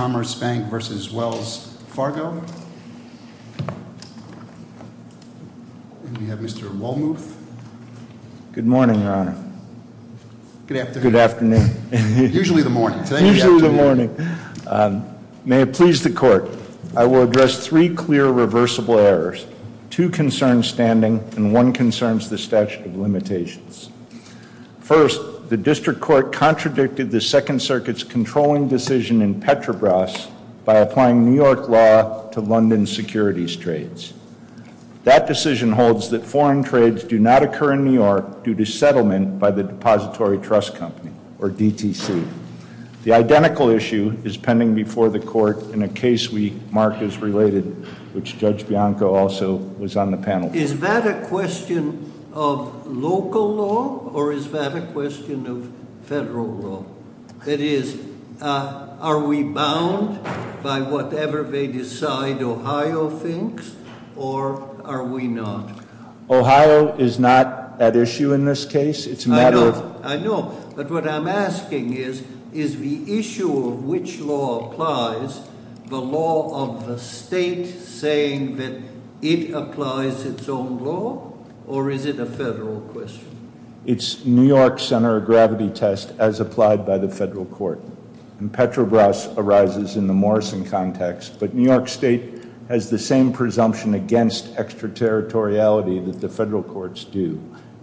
Good morning, Your Honor. Good afternoon. Usually the morning. May it please the court, I will address three clear reversible errors, two concerns standing and one concerns the statute of limitations. First, the district court contradicted the Second Circuit's controlling decision in Petrobras by applying New York law to London securities trades. That decision holds that foreign trades do not occur in New York due to settlement by the Depository Trust Company, or DTC. The identical issue is pending before the court in a case we marked as related, which Judge Bianco also was on the panel with. Is that a question of local law, or is that a question of federal law? That is, are we bound by whatever they decide Ohio thinks, or are we not? Ohio is not at issue in this case. It's a matter of- Or is it a federal question? It's New York's center of gravity test as applied by the federal court. Petrobras arises in the Morrison context, but New York State has the same presumption against extraterritoriality that the federal courts do,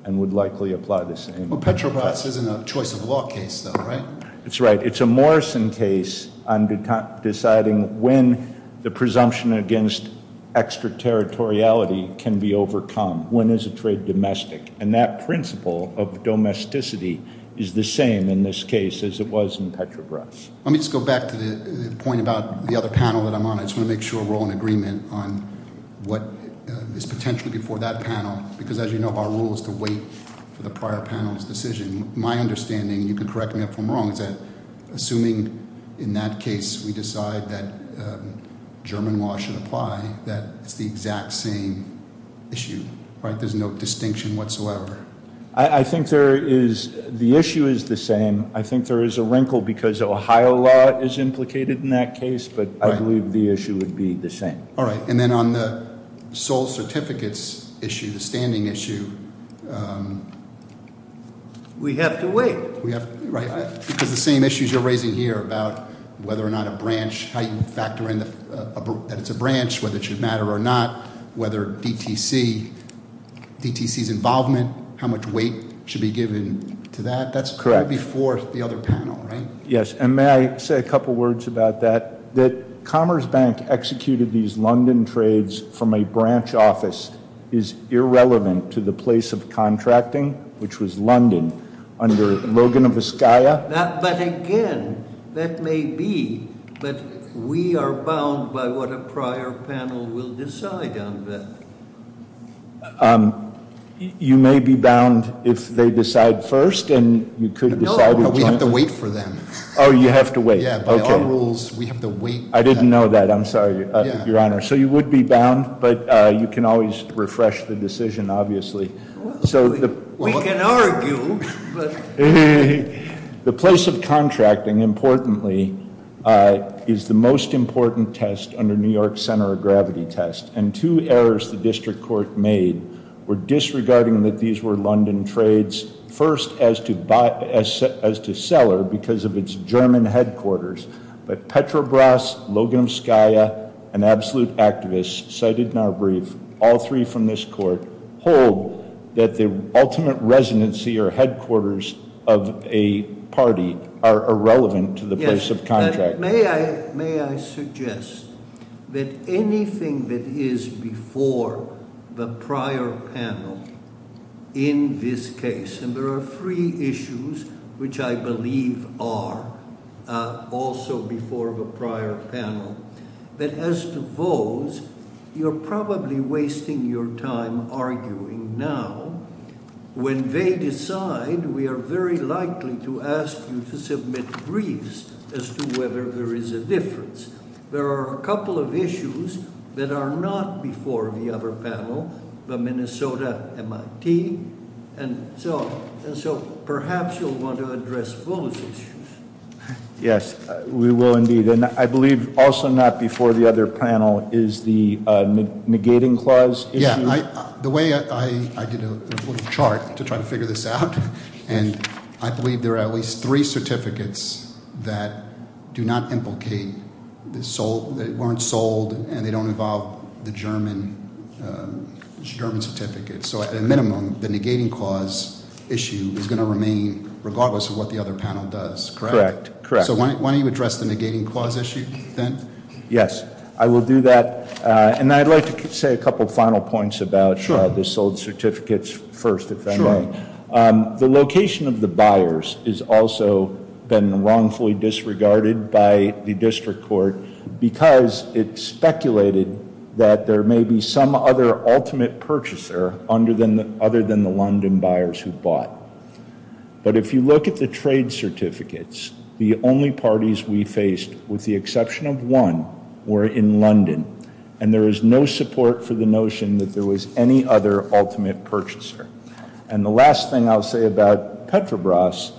and would likely apply the same. Petrobras isn't a choice of law case, though, right? It's right. It's a Morrison case on deciding when the presumption against extraterritoriality can be overcome. When is a trade domestic? And that principle of domesticity is the same in this case as it was in Petrobras. Let me just go back to the point about the other panel that I'm on. I just want to make sure we're all in agreement on what is potentially before that panel, because as you know, our rule is to wait for the prior panel's decision. My understanding, you can correct me if I'm wrong, is that assuming in that case we decide that German law should apply, that it's the exact same issue, right? There's no distinction whatsoever. I think there is- the issue is the same. I think there is a wrinkle because Ohio law is implicated in that case, but I believe the issue would be the same. All right. And then on the sole certificates issue, the standing issue- We have to wait. Right. Because the same issues you're raising here about whether or not a branch, how you factor in that it's a branch, whether it should matter or not, whether DTC's involvement, how much weight should be given to that, that's right before the other panel, right? Yes. And may I say a couple words about that? That Commerce Bank executed these London trades from a branch office is irrelevant to the place of contracting, which was London, under Logan of Askiah. But again, that may be, but we are bound by what a prior panel will decide on that. You may be bound if they decide first, and you could decide- We have to wait for them. Oh, you have to wait. Yeah, by our rules, we have to wait. I didn't know that. I'm sorry, Your Honor. So you would be bound, but you can always refresh the decision, obviously. We can argue, but- The place of contracting, importantly, is the most important test under New York's center of gravity test. And two errors the district court made were disregarding that these were London trades first as to seller because of its German headquarters. But Petrobras, Logan of Askiah, and absolute activists cited in our brief, all three from this court, hold that the ultimate residency or headquarters of a party are irrelevant to the place of contracting. But may I suggest that anything that is before the prior panel in this case, and there are three issues which I believe are also before the prior panel, that as to those, you're probably wasting your time arguing now. When they decide, we are very likely to ask you to submit briefs as to whether there is a difference. There are a couple of issues that are not before the other panel, the Minnesota MIT, and so perhaps you'll want to address those issues. Yes, we will indeed. And I believe also not before the other panel is the negating clause issue. The way I did a little chart to try to figure this out, and I believe there are at least three certificates that do not implicate, that weren't sold, and they don't involve the German certificate. So at a minimum, the negating clause issue is going to remain regardless of what the other panel does, correct? Correct. So why don't you address the negating clause issue then? Yes, I will do that. And I'd like to say a couple final points about the sold certificates first, if I may. Sure. The location of the buyers has also been wrongfully disregarded by the district court because it speculated that there may be some other ultimate purchaser other than the London buyers who bought. But if you look at the trade certificates, the only parties we faced, with the exception of one, were in London. And there is no support for the notion that there was any other ultimate purchaser. And the last thing I'll say about Petrobras,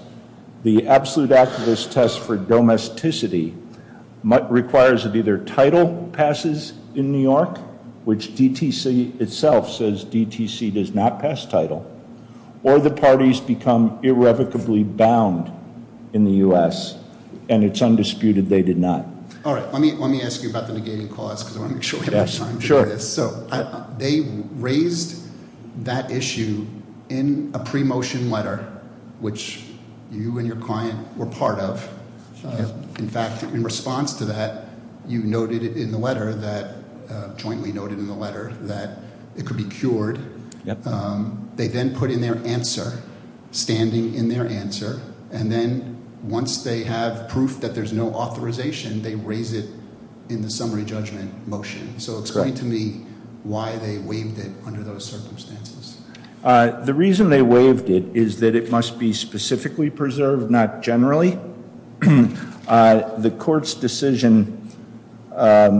the absolute activist test for domesticity requires that either title passes in New York, which DTC itself says DTC does not pass title, or the parties become irrevocably bound in the U.S. And it's undisputed they did not. All right. Let me ask you about the negating clause because I want to make sure we have enough time to do this. Sure. So they raised that issue in a pre-motion letter, which you and your client were part of. In fact, in response to that, you noted in the letter that – jointly noted in the letter that it could be cured. They then put in their answer, standing in their answer. And then once they have proof that there's no authorization, they raise it in the summary judgment motion. So explain to me why they waived it under those circumstances. The reason they waived it is that it must be specifically preserved, not generally. The court's decision, a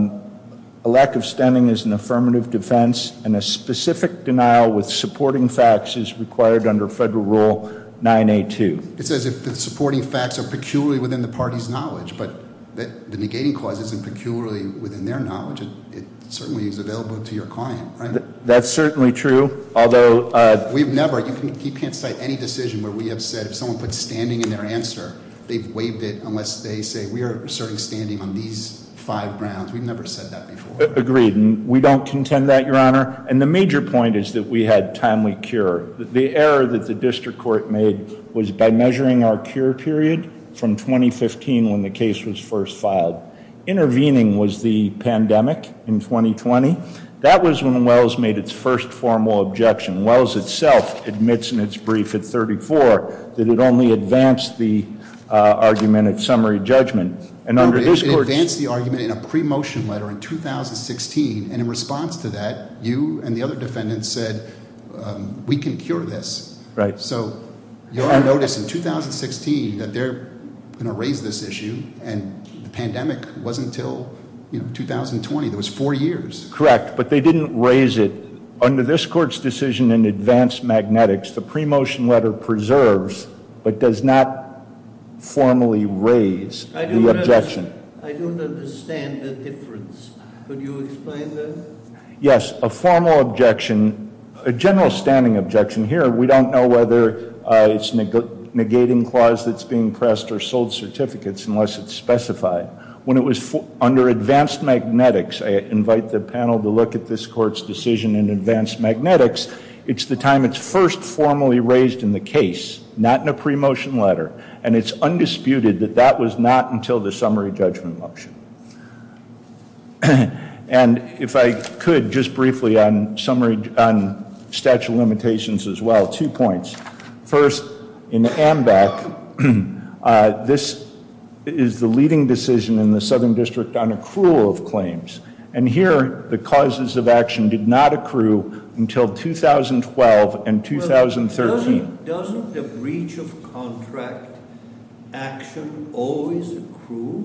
lack of standing is an affirmative defense, and a specific denial with supporting facts is required under Federal Rule 9A2. It says if the supporting facts are peculiarly within the party's knowledge, but the negating clause isn't peculiarly within their knowledge. It certainly is available to your client, right? That's certainly true, although – We've never – you can't cite any decision where we have said if someone puts standing in their answer, they've waived it unless they say we are asserting standing on these five grounds. We've never said that before. Agreed. We don't contend that, Your Honor. And the major point is that we had timely cure. The error that the district court made was by measuring our cure period from 2015 when the case was first filed. Intervening was the pandemic in 2020. That was when Wells made its first formal objection. Wells itself admits in its brief at 34 that it only advanced the argument at summary judgment. It advanced the argument in a pre-motion letter in 2016, and in response to that, you and the other defendants said, we can cure this. Right. So, Your Honor noticed in 2016 that they're going to raise this issue, and the pandemic wasn't until 2020. There was four years. Correct, but they didn't raise it. Under this court's decision in advanced magnetics, the pre-motion letter preserves but does not formally raise the objection. I don't understand the difference. Could you explain that? Yes. A formal objection, a general standing objection here, we don't know whether it's negating clause that's being pressed or sold certificates unless it's specified. When it was under advanced magnetics, I invite the panel to look at this court's decision in advanced magnetics. It's the time it's first formally raised in the case, not in a pre-motion letter, and it's undisputed that that was not until the summary judgment motion. And if I could just briefly on summary, on statute of limitations as well, two points. First, in AMBAC, this is the leading decision in the Southern District on accrual of claims. And here, the causes of action did not accrue until 2012 and 2013. Doesn't the breach of contract action always accrue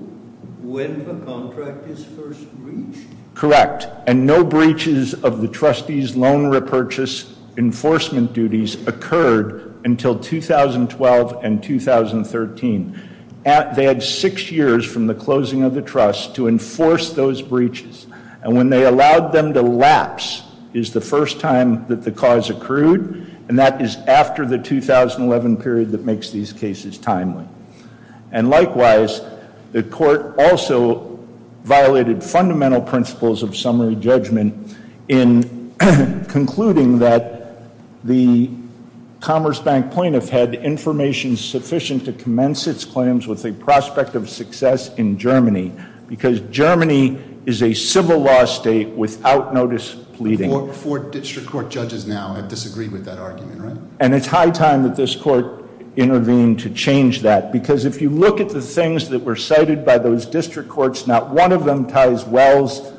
when the contract is first breached? Correct. And no breaches of the trustee's loan repurchase enforcement duties occurred until 2012 and 2013. They had six years from the closing of the trust to enforce those breaches. And when they allowed them to lapse is the first time that the cause accrued, and that is after the 2011 period that makes these cases timely. And likewise, the court also violated fundamental principles of summary judgment in concluding that the Commerce Bank plaintiff had information sufficient to commence its claims with a prospect of success in Germany, because Germany is a civil law state without notice pleading. Four district court judges now have disagreed with that argument, right? And it's high time that this court intervened to change that, because if you look at the things that were cited by those district courts, not one of them ties Wells'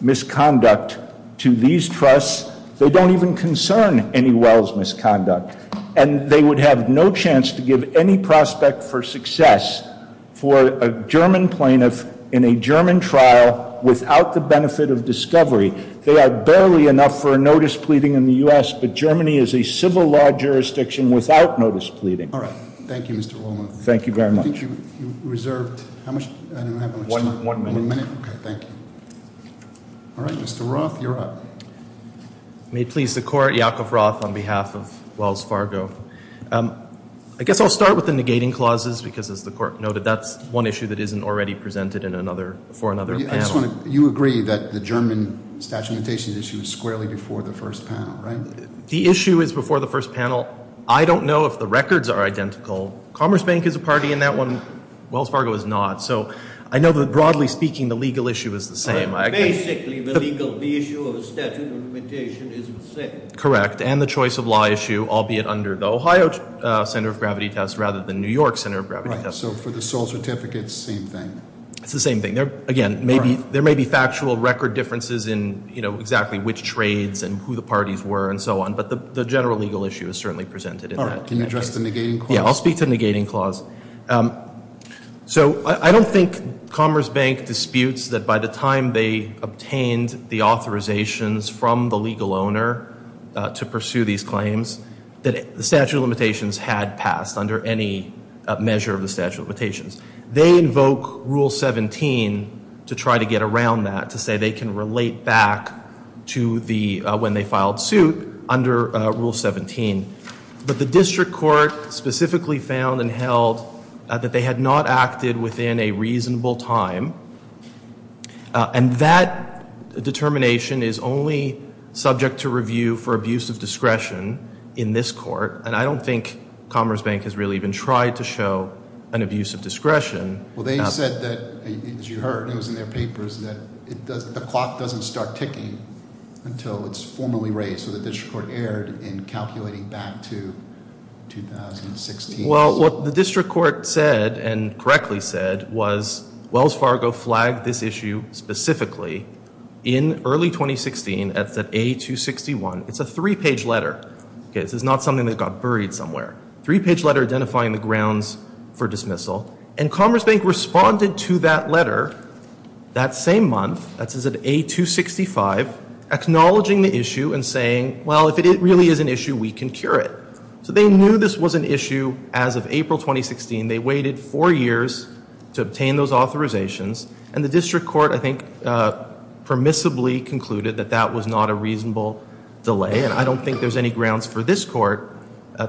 misconduct to these trusts. They don't even concern any Wells' misconduct. And they would have no chance to give any prospect for success for a German plaintiff in a German trial without the benefit of discovery. They are barely enough for a notice pleading in the U.S., but Germany is a civil law jurisdiction without notice pleading. All right. Thank you, Mr. Woolman. Thank you very much. I think you reserved how much time? One minute. One minute? Okay, thank you. All right, Mr. Roth, you're up. May it please the court, Yakov Roth on behalf of Wells Fargo. I guess I'll start with the negating clauses, because as the court noted, that's one issue that isn't already presented for another panel. You agree that the German statute of limitations issue is squarely before the first panel, right? The issue is before the first panel. I don't know if the records are identical. Commerce Bank is a party in that one. Wells Fargo is not. So I know that, broadly speaking, the legal issue is the same. Basically, the legal issue of a statute of limitations is the same. Correct. And the choice of law issue, albeit under the Ohio center of gravity test rather than New York center of gravity test. Right. So for the sole certificates, same thing. It's the same thing. Again, there may be factual record differences in, you know, exactly which trades and who the parties were and so on, but the general legal issue is certainly presented in that. Can you address the negating clause? Yeah, I'll speak to the negating clause. So I don't think Commerce Bank disputes that by the time they obtained the authorizations from the legal owner to pursue these claims, that the statute of limitations had passed under any measure of the statute of limitations. They invoke rule 17 to try to get around that, to say they can relate back to when they filed suit under rule 17. But the district court specifically found and held that they had not acted within a reasonable time, and that determination is only subject to review for abuse of discretion in this court, and I don't think Commerce Bank has really even tried to show an abuse of discretion. Well, they said that, as you heard, it was in their papers that the clock doesn't start ticking until it's formally raised, so the district court erred in calculating back to 2016. Well, what the district court said and correctly said was Wells Fargo flagged this issue specifically in early 2016 at A261. It's a three-page letter. Okay, this is not something that got buried somewhere. Three-page letter identifying the grounds for dismissal, and Commerce Bank responded to that letter that same month, that is at A265, acknowledging the issue and saying, well, if it really is an issue, we can cure it. So they knew this was an issue as of April 2016. They waited four years to obtain those authorizations, and the district court, I think, permissibly concluded that that was not a reasonable delay, and I don't think there's any grounds for this court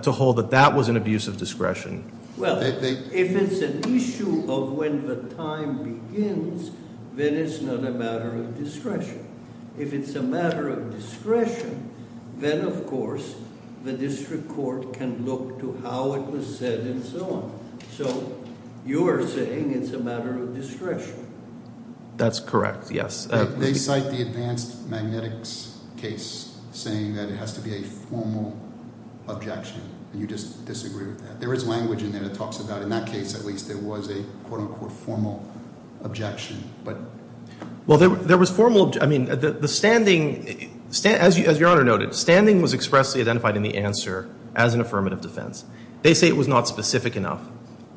to hold that that was an abuse of discretion. Well, if it's an issue of when the time begins, then it's not a matter of discretion. If it's a matter of discretion, then, of course, the district court can look to how it was said and so on. So you're saying it's a matter of discretion. That's correct, yes. They cite the advanced magnetics case saying that it has to be a formal objection, and you just disagree with that. There is language in there that talks about in that case at least there was a quote-unquote formal objection. Well, there was formalóI mean, the standingóas Your Honor noted, standing was expressly identified in the answer as an affirmative defense. They say it was not specific enough,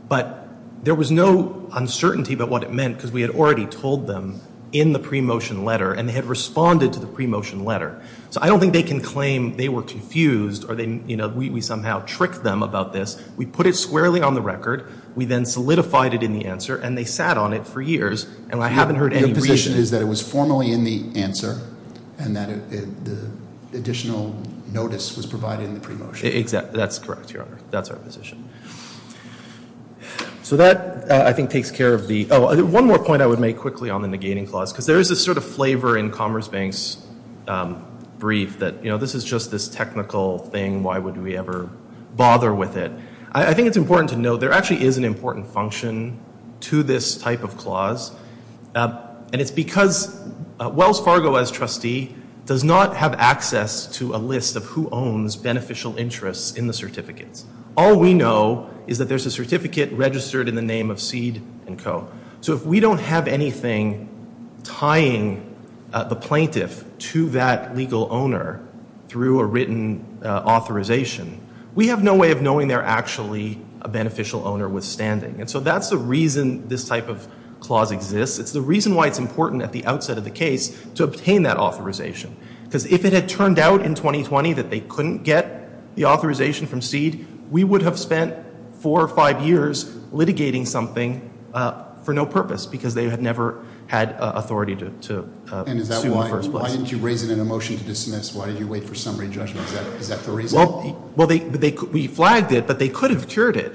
but there was no uncertainty about what it meant because we had already told them in the pre-motion letter, and they had responded to the pre-motion letter. So I don't think they can claim they were confused or we somehow tricked them about this. We put it squarely on the record. We then solidified it in the answer, and they sat on it for years, and I haven't heard any reasonó Your position is that it was formally in the answer and that the additional notice was provided in the pre-motion. Exactly. That's correct, Your Honor. That's our position. So that, I think, takes care of theó Oh, one more point I would make quickly on the negating clause because there is this sort of flavor in Commerce Bank's brief that, you know, this is just this technical thing. Why would we ever bother with it? I think it's important to note there actually is an important function to this type of clause, and it's because Wells Fargo, as trustee, does not have access to a list of who owns beneficial interests in the certificates. All we know is that there's a certificate registered in the name of Seed & Co. So if we don't have anything tying the plaintiff to that legal owner through a written authorization, we have no way of knowing they're actually a beneficial owner withstanding. And so that's the reason this type of clause exists. It's the reason why it's important at the outset of the case to obtain that authorization Because if it had turned out in 2020 that they couldn't get the authorization from Seed, we would have spent four or five years litigating something for no purpose because they had never had authority to sue in the first place. And is that whyówhy didn't you raise it in a motion to dismiss? Why did you wait for summary judgment? Is that the reason? Well, theyówe flagged it, but they could have cured it.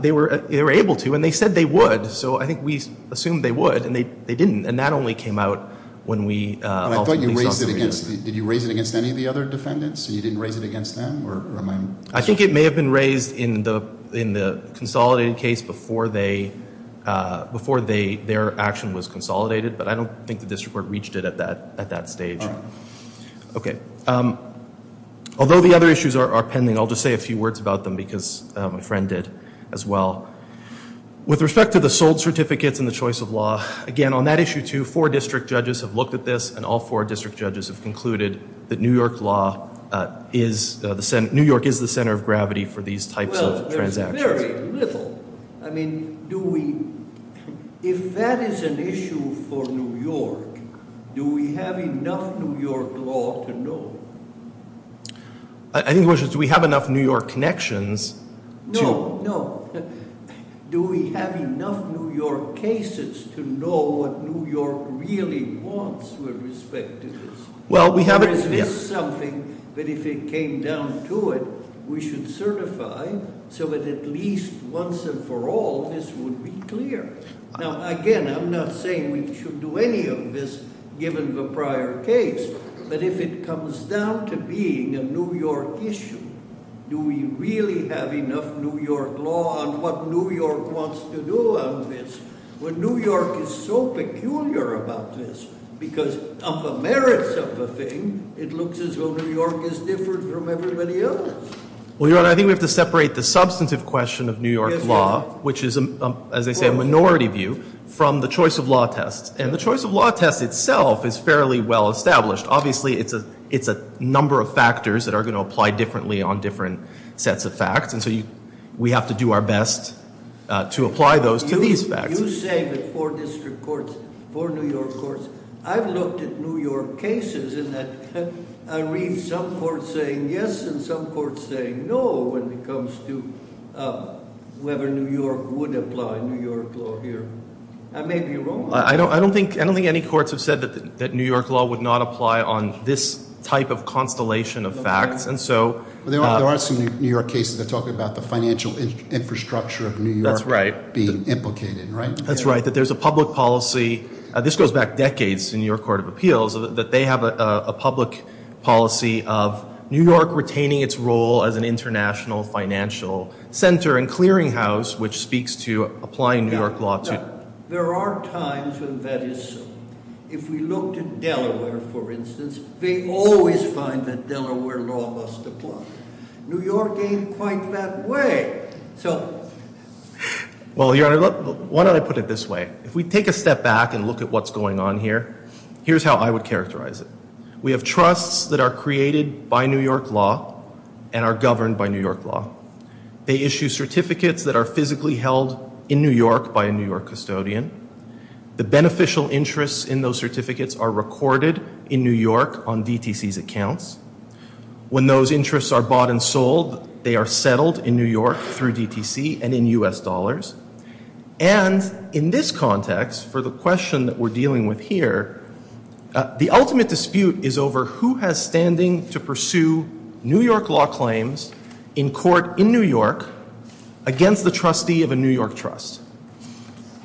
They were able to, and they said they would. So I think we assumed they would, and they didn't. And that only came out when we ultimately saw summary judgment. And I thought you raised it againstódid you raise it against any of the other defendants, and you didn't raise it against them, or am Ió I think it may have been raised in the consolidated case before theyóbefore their action was consolidated, but I don't think the district court reached it at that stage. All right. Okay. Although the other issues are pending, I'll just say a few words about them because my friend did as well. With respect to the sold certificates and the choice of law, again, on that issue too, four district judges have looked at this, and all four district judges have concluded that New York law is theóNew York is the center of gravity for these types of transactions. Well, there is very little. I mean, do weóif that is an issue for New York, do we have enough New York law to know? I think the question is do we have enough New York connections toó No, no. Do we have enough New York cases to know what New York really wants with respect to this? Well, we haveó Or is this something that if it came down to it, we should certify so that at least once and for all this would be clear? Now, again, I'm not saying we should do any of this given the prior case, but if it comes down to being a New York issue, do we really have enough New York law on what New York wants to do on this when New York is so peculiar about this? Because of the merits of the thing, it looks as though New York is different from everybody else. Well, Your Honor, I think we have to separate the substantive question of New York law, which is, as they say, a minority view, from the choice of law test. And the choice of law test itself is fairly well established. Obviously, it's a number of factors that are going to apply differently on different sets of facts, and so we have to do our best to apply those to these facts. You say that four district courts, four New York courtsóI've looked at New York cases in that I read some courts saying yes and some courts saying no when it comes to whether New York would apply New York law here. I may be wrong. I don't think any courts have said that New York law would not apply on this type of constellation of facts, and soó There are some New York cases that talk about the financial infrastructure of New York being implicated, right? That's right, that there's a public policyóthis goes back decades in your court of appealsó that they have a public policy of New York retaining its role as an international financial center and clearinghouse, which speaks to applying New York law toó But there are times when that is so. If we looked at Delaware, for instance, they always find that Delaware law must apply. New York ain't quite that way. Soó Well, Your Honor, why don't I put it this way? If we take a step back and look at what's going on here, here's how I would characterize it. We have trusts that are created by New York law and are governed by New York law. They issue certificates that are physically held in New York by a New York custodian. The beneficial interests in those certificates are recorded in New York on DTC's accounts. When those interests are bought and sold, they are settled in New York through DTC and in U.S. dollars. And in this context, for the question that we're dealing with here, the ultimate dispute is over who has standing to pursue New York law claims in court in New York against the trustee of a New York trust.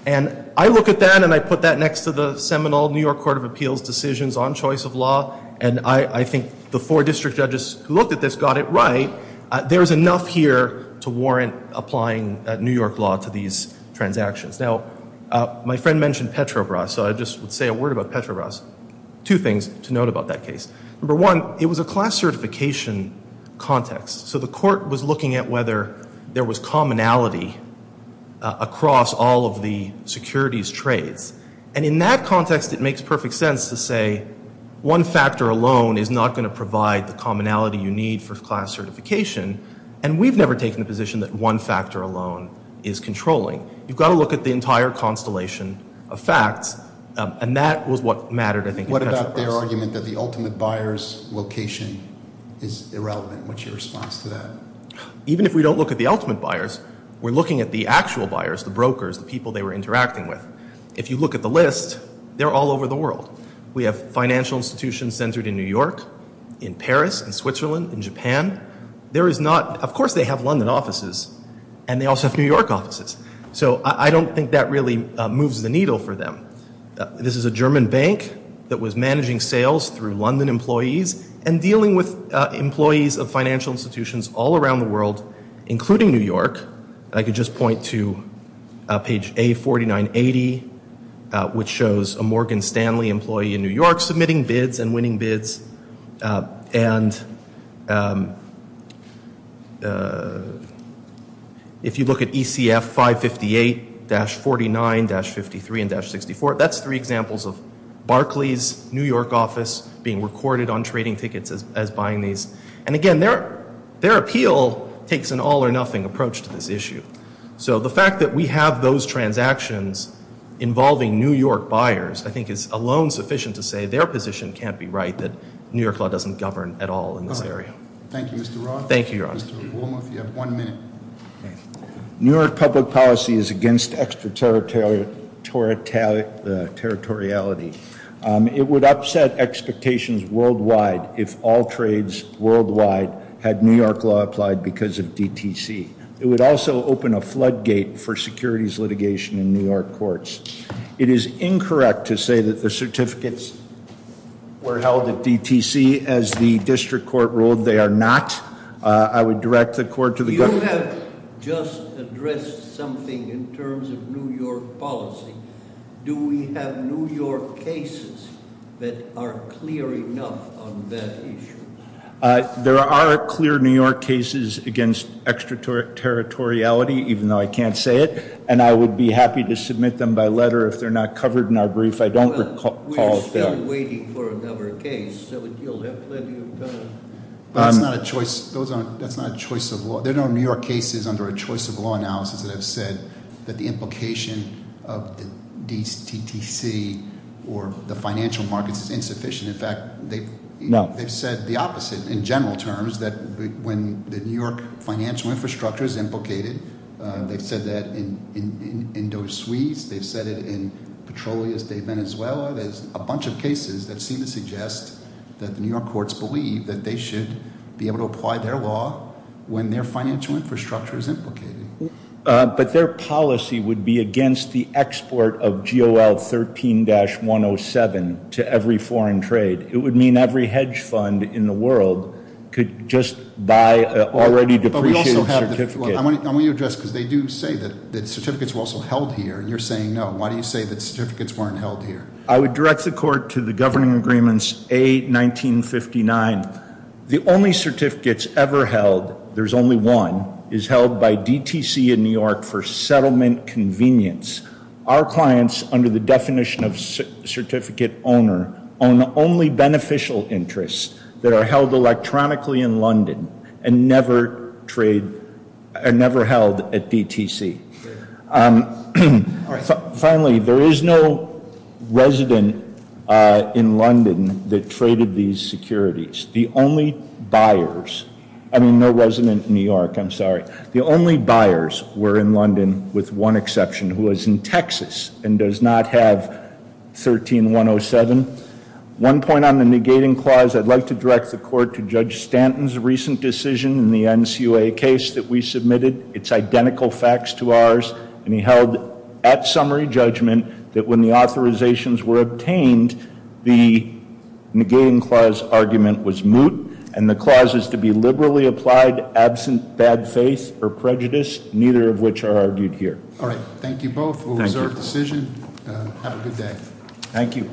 And I look at that and I put that next to the seminal New York Court of Appeals decisions on choice of law, and I think the four district judges who looked at this got it right. There is enough here to warrant applying New York law to these transactions. Now, my friend mentioned Petrobras, so I just would say a word about Petrobras. Two things to note about that case. Number one, it was a class certification context, so the court was looking at whether there was commonality across all of the securities trades. And in that context, it makes perfect sense to say one factor alone is not going to provide the commonality you need for class certification, and we've never taken the position that one factor alone is controlling. You've got to look at the entire constellation of facts, and that was what mattered, I think, in Petrobras. What about their argument that the ultimate buyer's location is irrelevant? What's your response to that? Even if we don't look at the ultimate buyers, we're looking at the actual buyers, the brokers, the people they were interacting with. If you look at the list, they're all over the world. We have financial institutions centered in New York, in Paris, in Switzerland, in Japan. Of course they have London offices, and they also have New York offices. So I don't think that really moves the needle for them. This is a German bank that was managing sales through London employees and dealing with employees of financial institutions all around the world, including New York. I could just point to page A4980, which shows a Morgan Stanley employee in New York submitting bids and winning bids. And if you look at ECF 558-49-53-64, that's three examples of Barclays, New York office, being recorded on trading tickets as buying these. And again, their appeal takes an all-or-nothing approach to this issue. So the fact that we have those transactions involving New York buyers, I think, is alone sufficient to say their position can't be right, that New York law doesn't govern at all in this area. Thank you, Mr. Roth. Thank you, Your Honor. Mr. Wilmoth, you have one minute. New York public policy is against extraterritoriality. It would upset expectations worldwide if all trades worldwide had New York law applied because of DTC. It would also open a floodgate for securities litigation in New York courts. It is incorrect to say that the certificates were held at DTC as the district court ruled they are not. I would direct the court to the- You have just addressed something in terms of New York policy. Do we have New York cases that are clear enough on that issue? There are clear New York cases against extraterritoriality, even though I can't say it. And I would be happy to submit them by letter if they're not covered in our brief. I don't recall- We're still waiting for another case, so you'll have plenty of time. But that's not a choice of law. There are no New York cases under a choice of law analysis that have said that the implication of the DTTC, or the financial markets, is insufficient. In fact, they've said the opposite in general terms, that when the New York financial infrastructure is implicated, they've said that in Dos Suis, they've said it in Petrolias de Venezuela. There's a bunch of cases that seem to suggest that the New York courts believe that they should be able to apply their law when their financial infrastructure is implicated. But their policy would be against the export of GOL 13-107 to every foreign trade. It would mean every hedge fund in the world could just buy an already depreciated certificate. I want you to address, because they do say that certificates were also held here, and you're saying no. Why do you say that certificates weren't held here? I would direct the court to the governing agreements A1959. The only certificates ever held, there's only one, is held by DTC in New York for settlement convenience. Our clients, under the definition of certificate owner, own only beneficial interests that are held electronically in London and never held at DTC. Finally, there is no resident in London that traded these securities. The only buyers, I mean, no resident in New York, I'm sorry. The only buyers were in London, with one exception, who was in Texas and does not have 13-107. One point on the negating clause, I'd like to direct the court to Judge Stanton's recent decision in the NCOA case that we submitted. It's identical facts to ours, and he held at summary judgment that when the authorizations were obtained, the negating clause argument was moot, and the clause is to be liberally applied, absent bad faith or prejudice, neither of which are argued here. All right, thank you both for a reserved decision, have a good day. Thank you.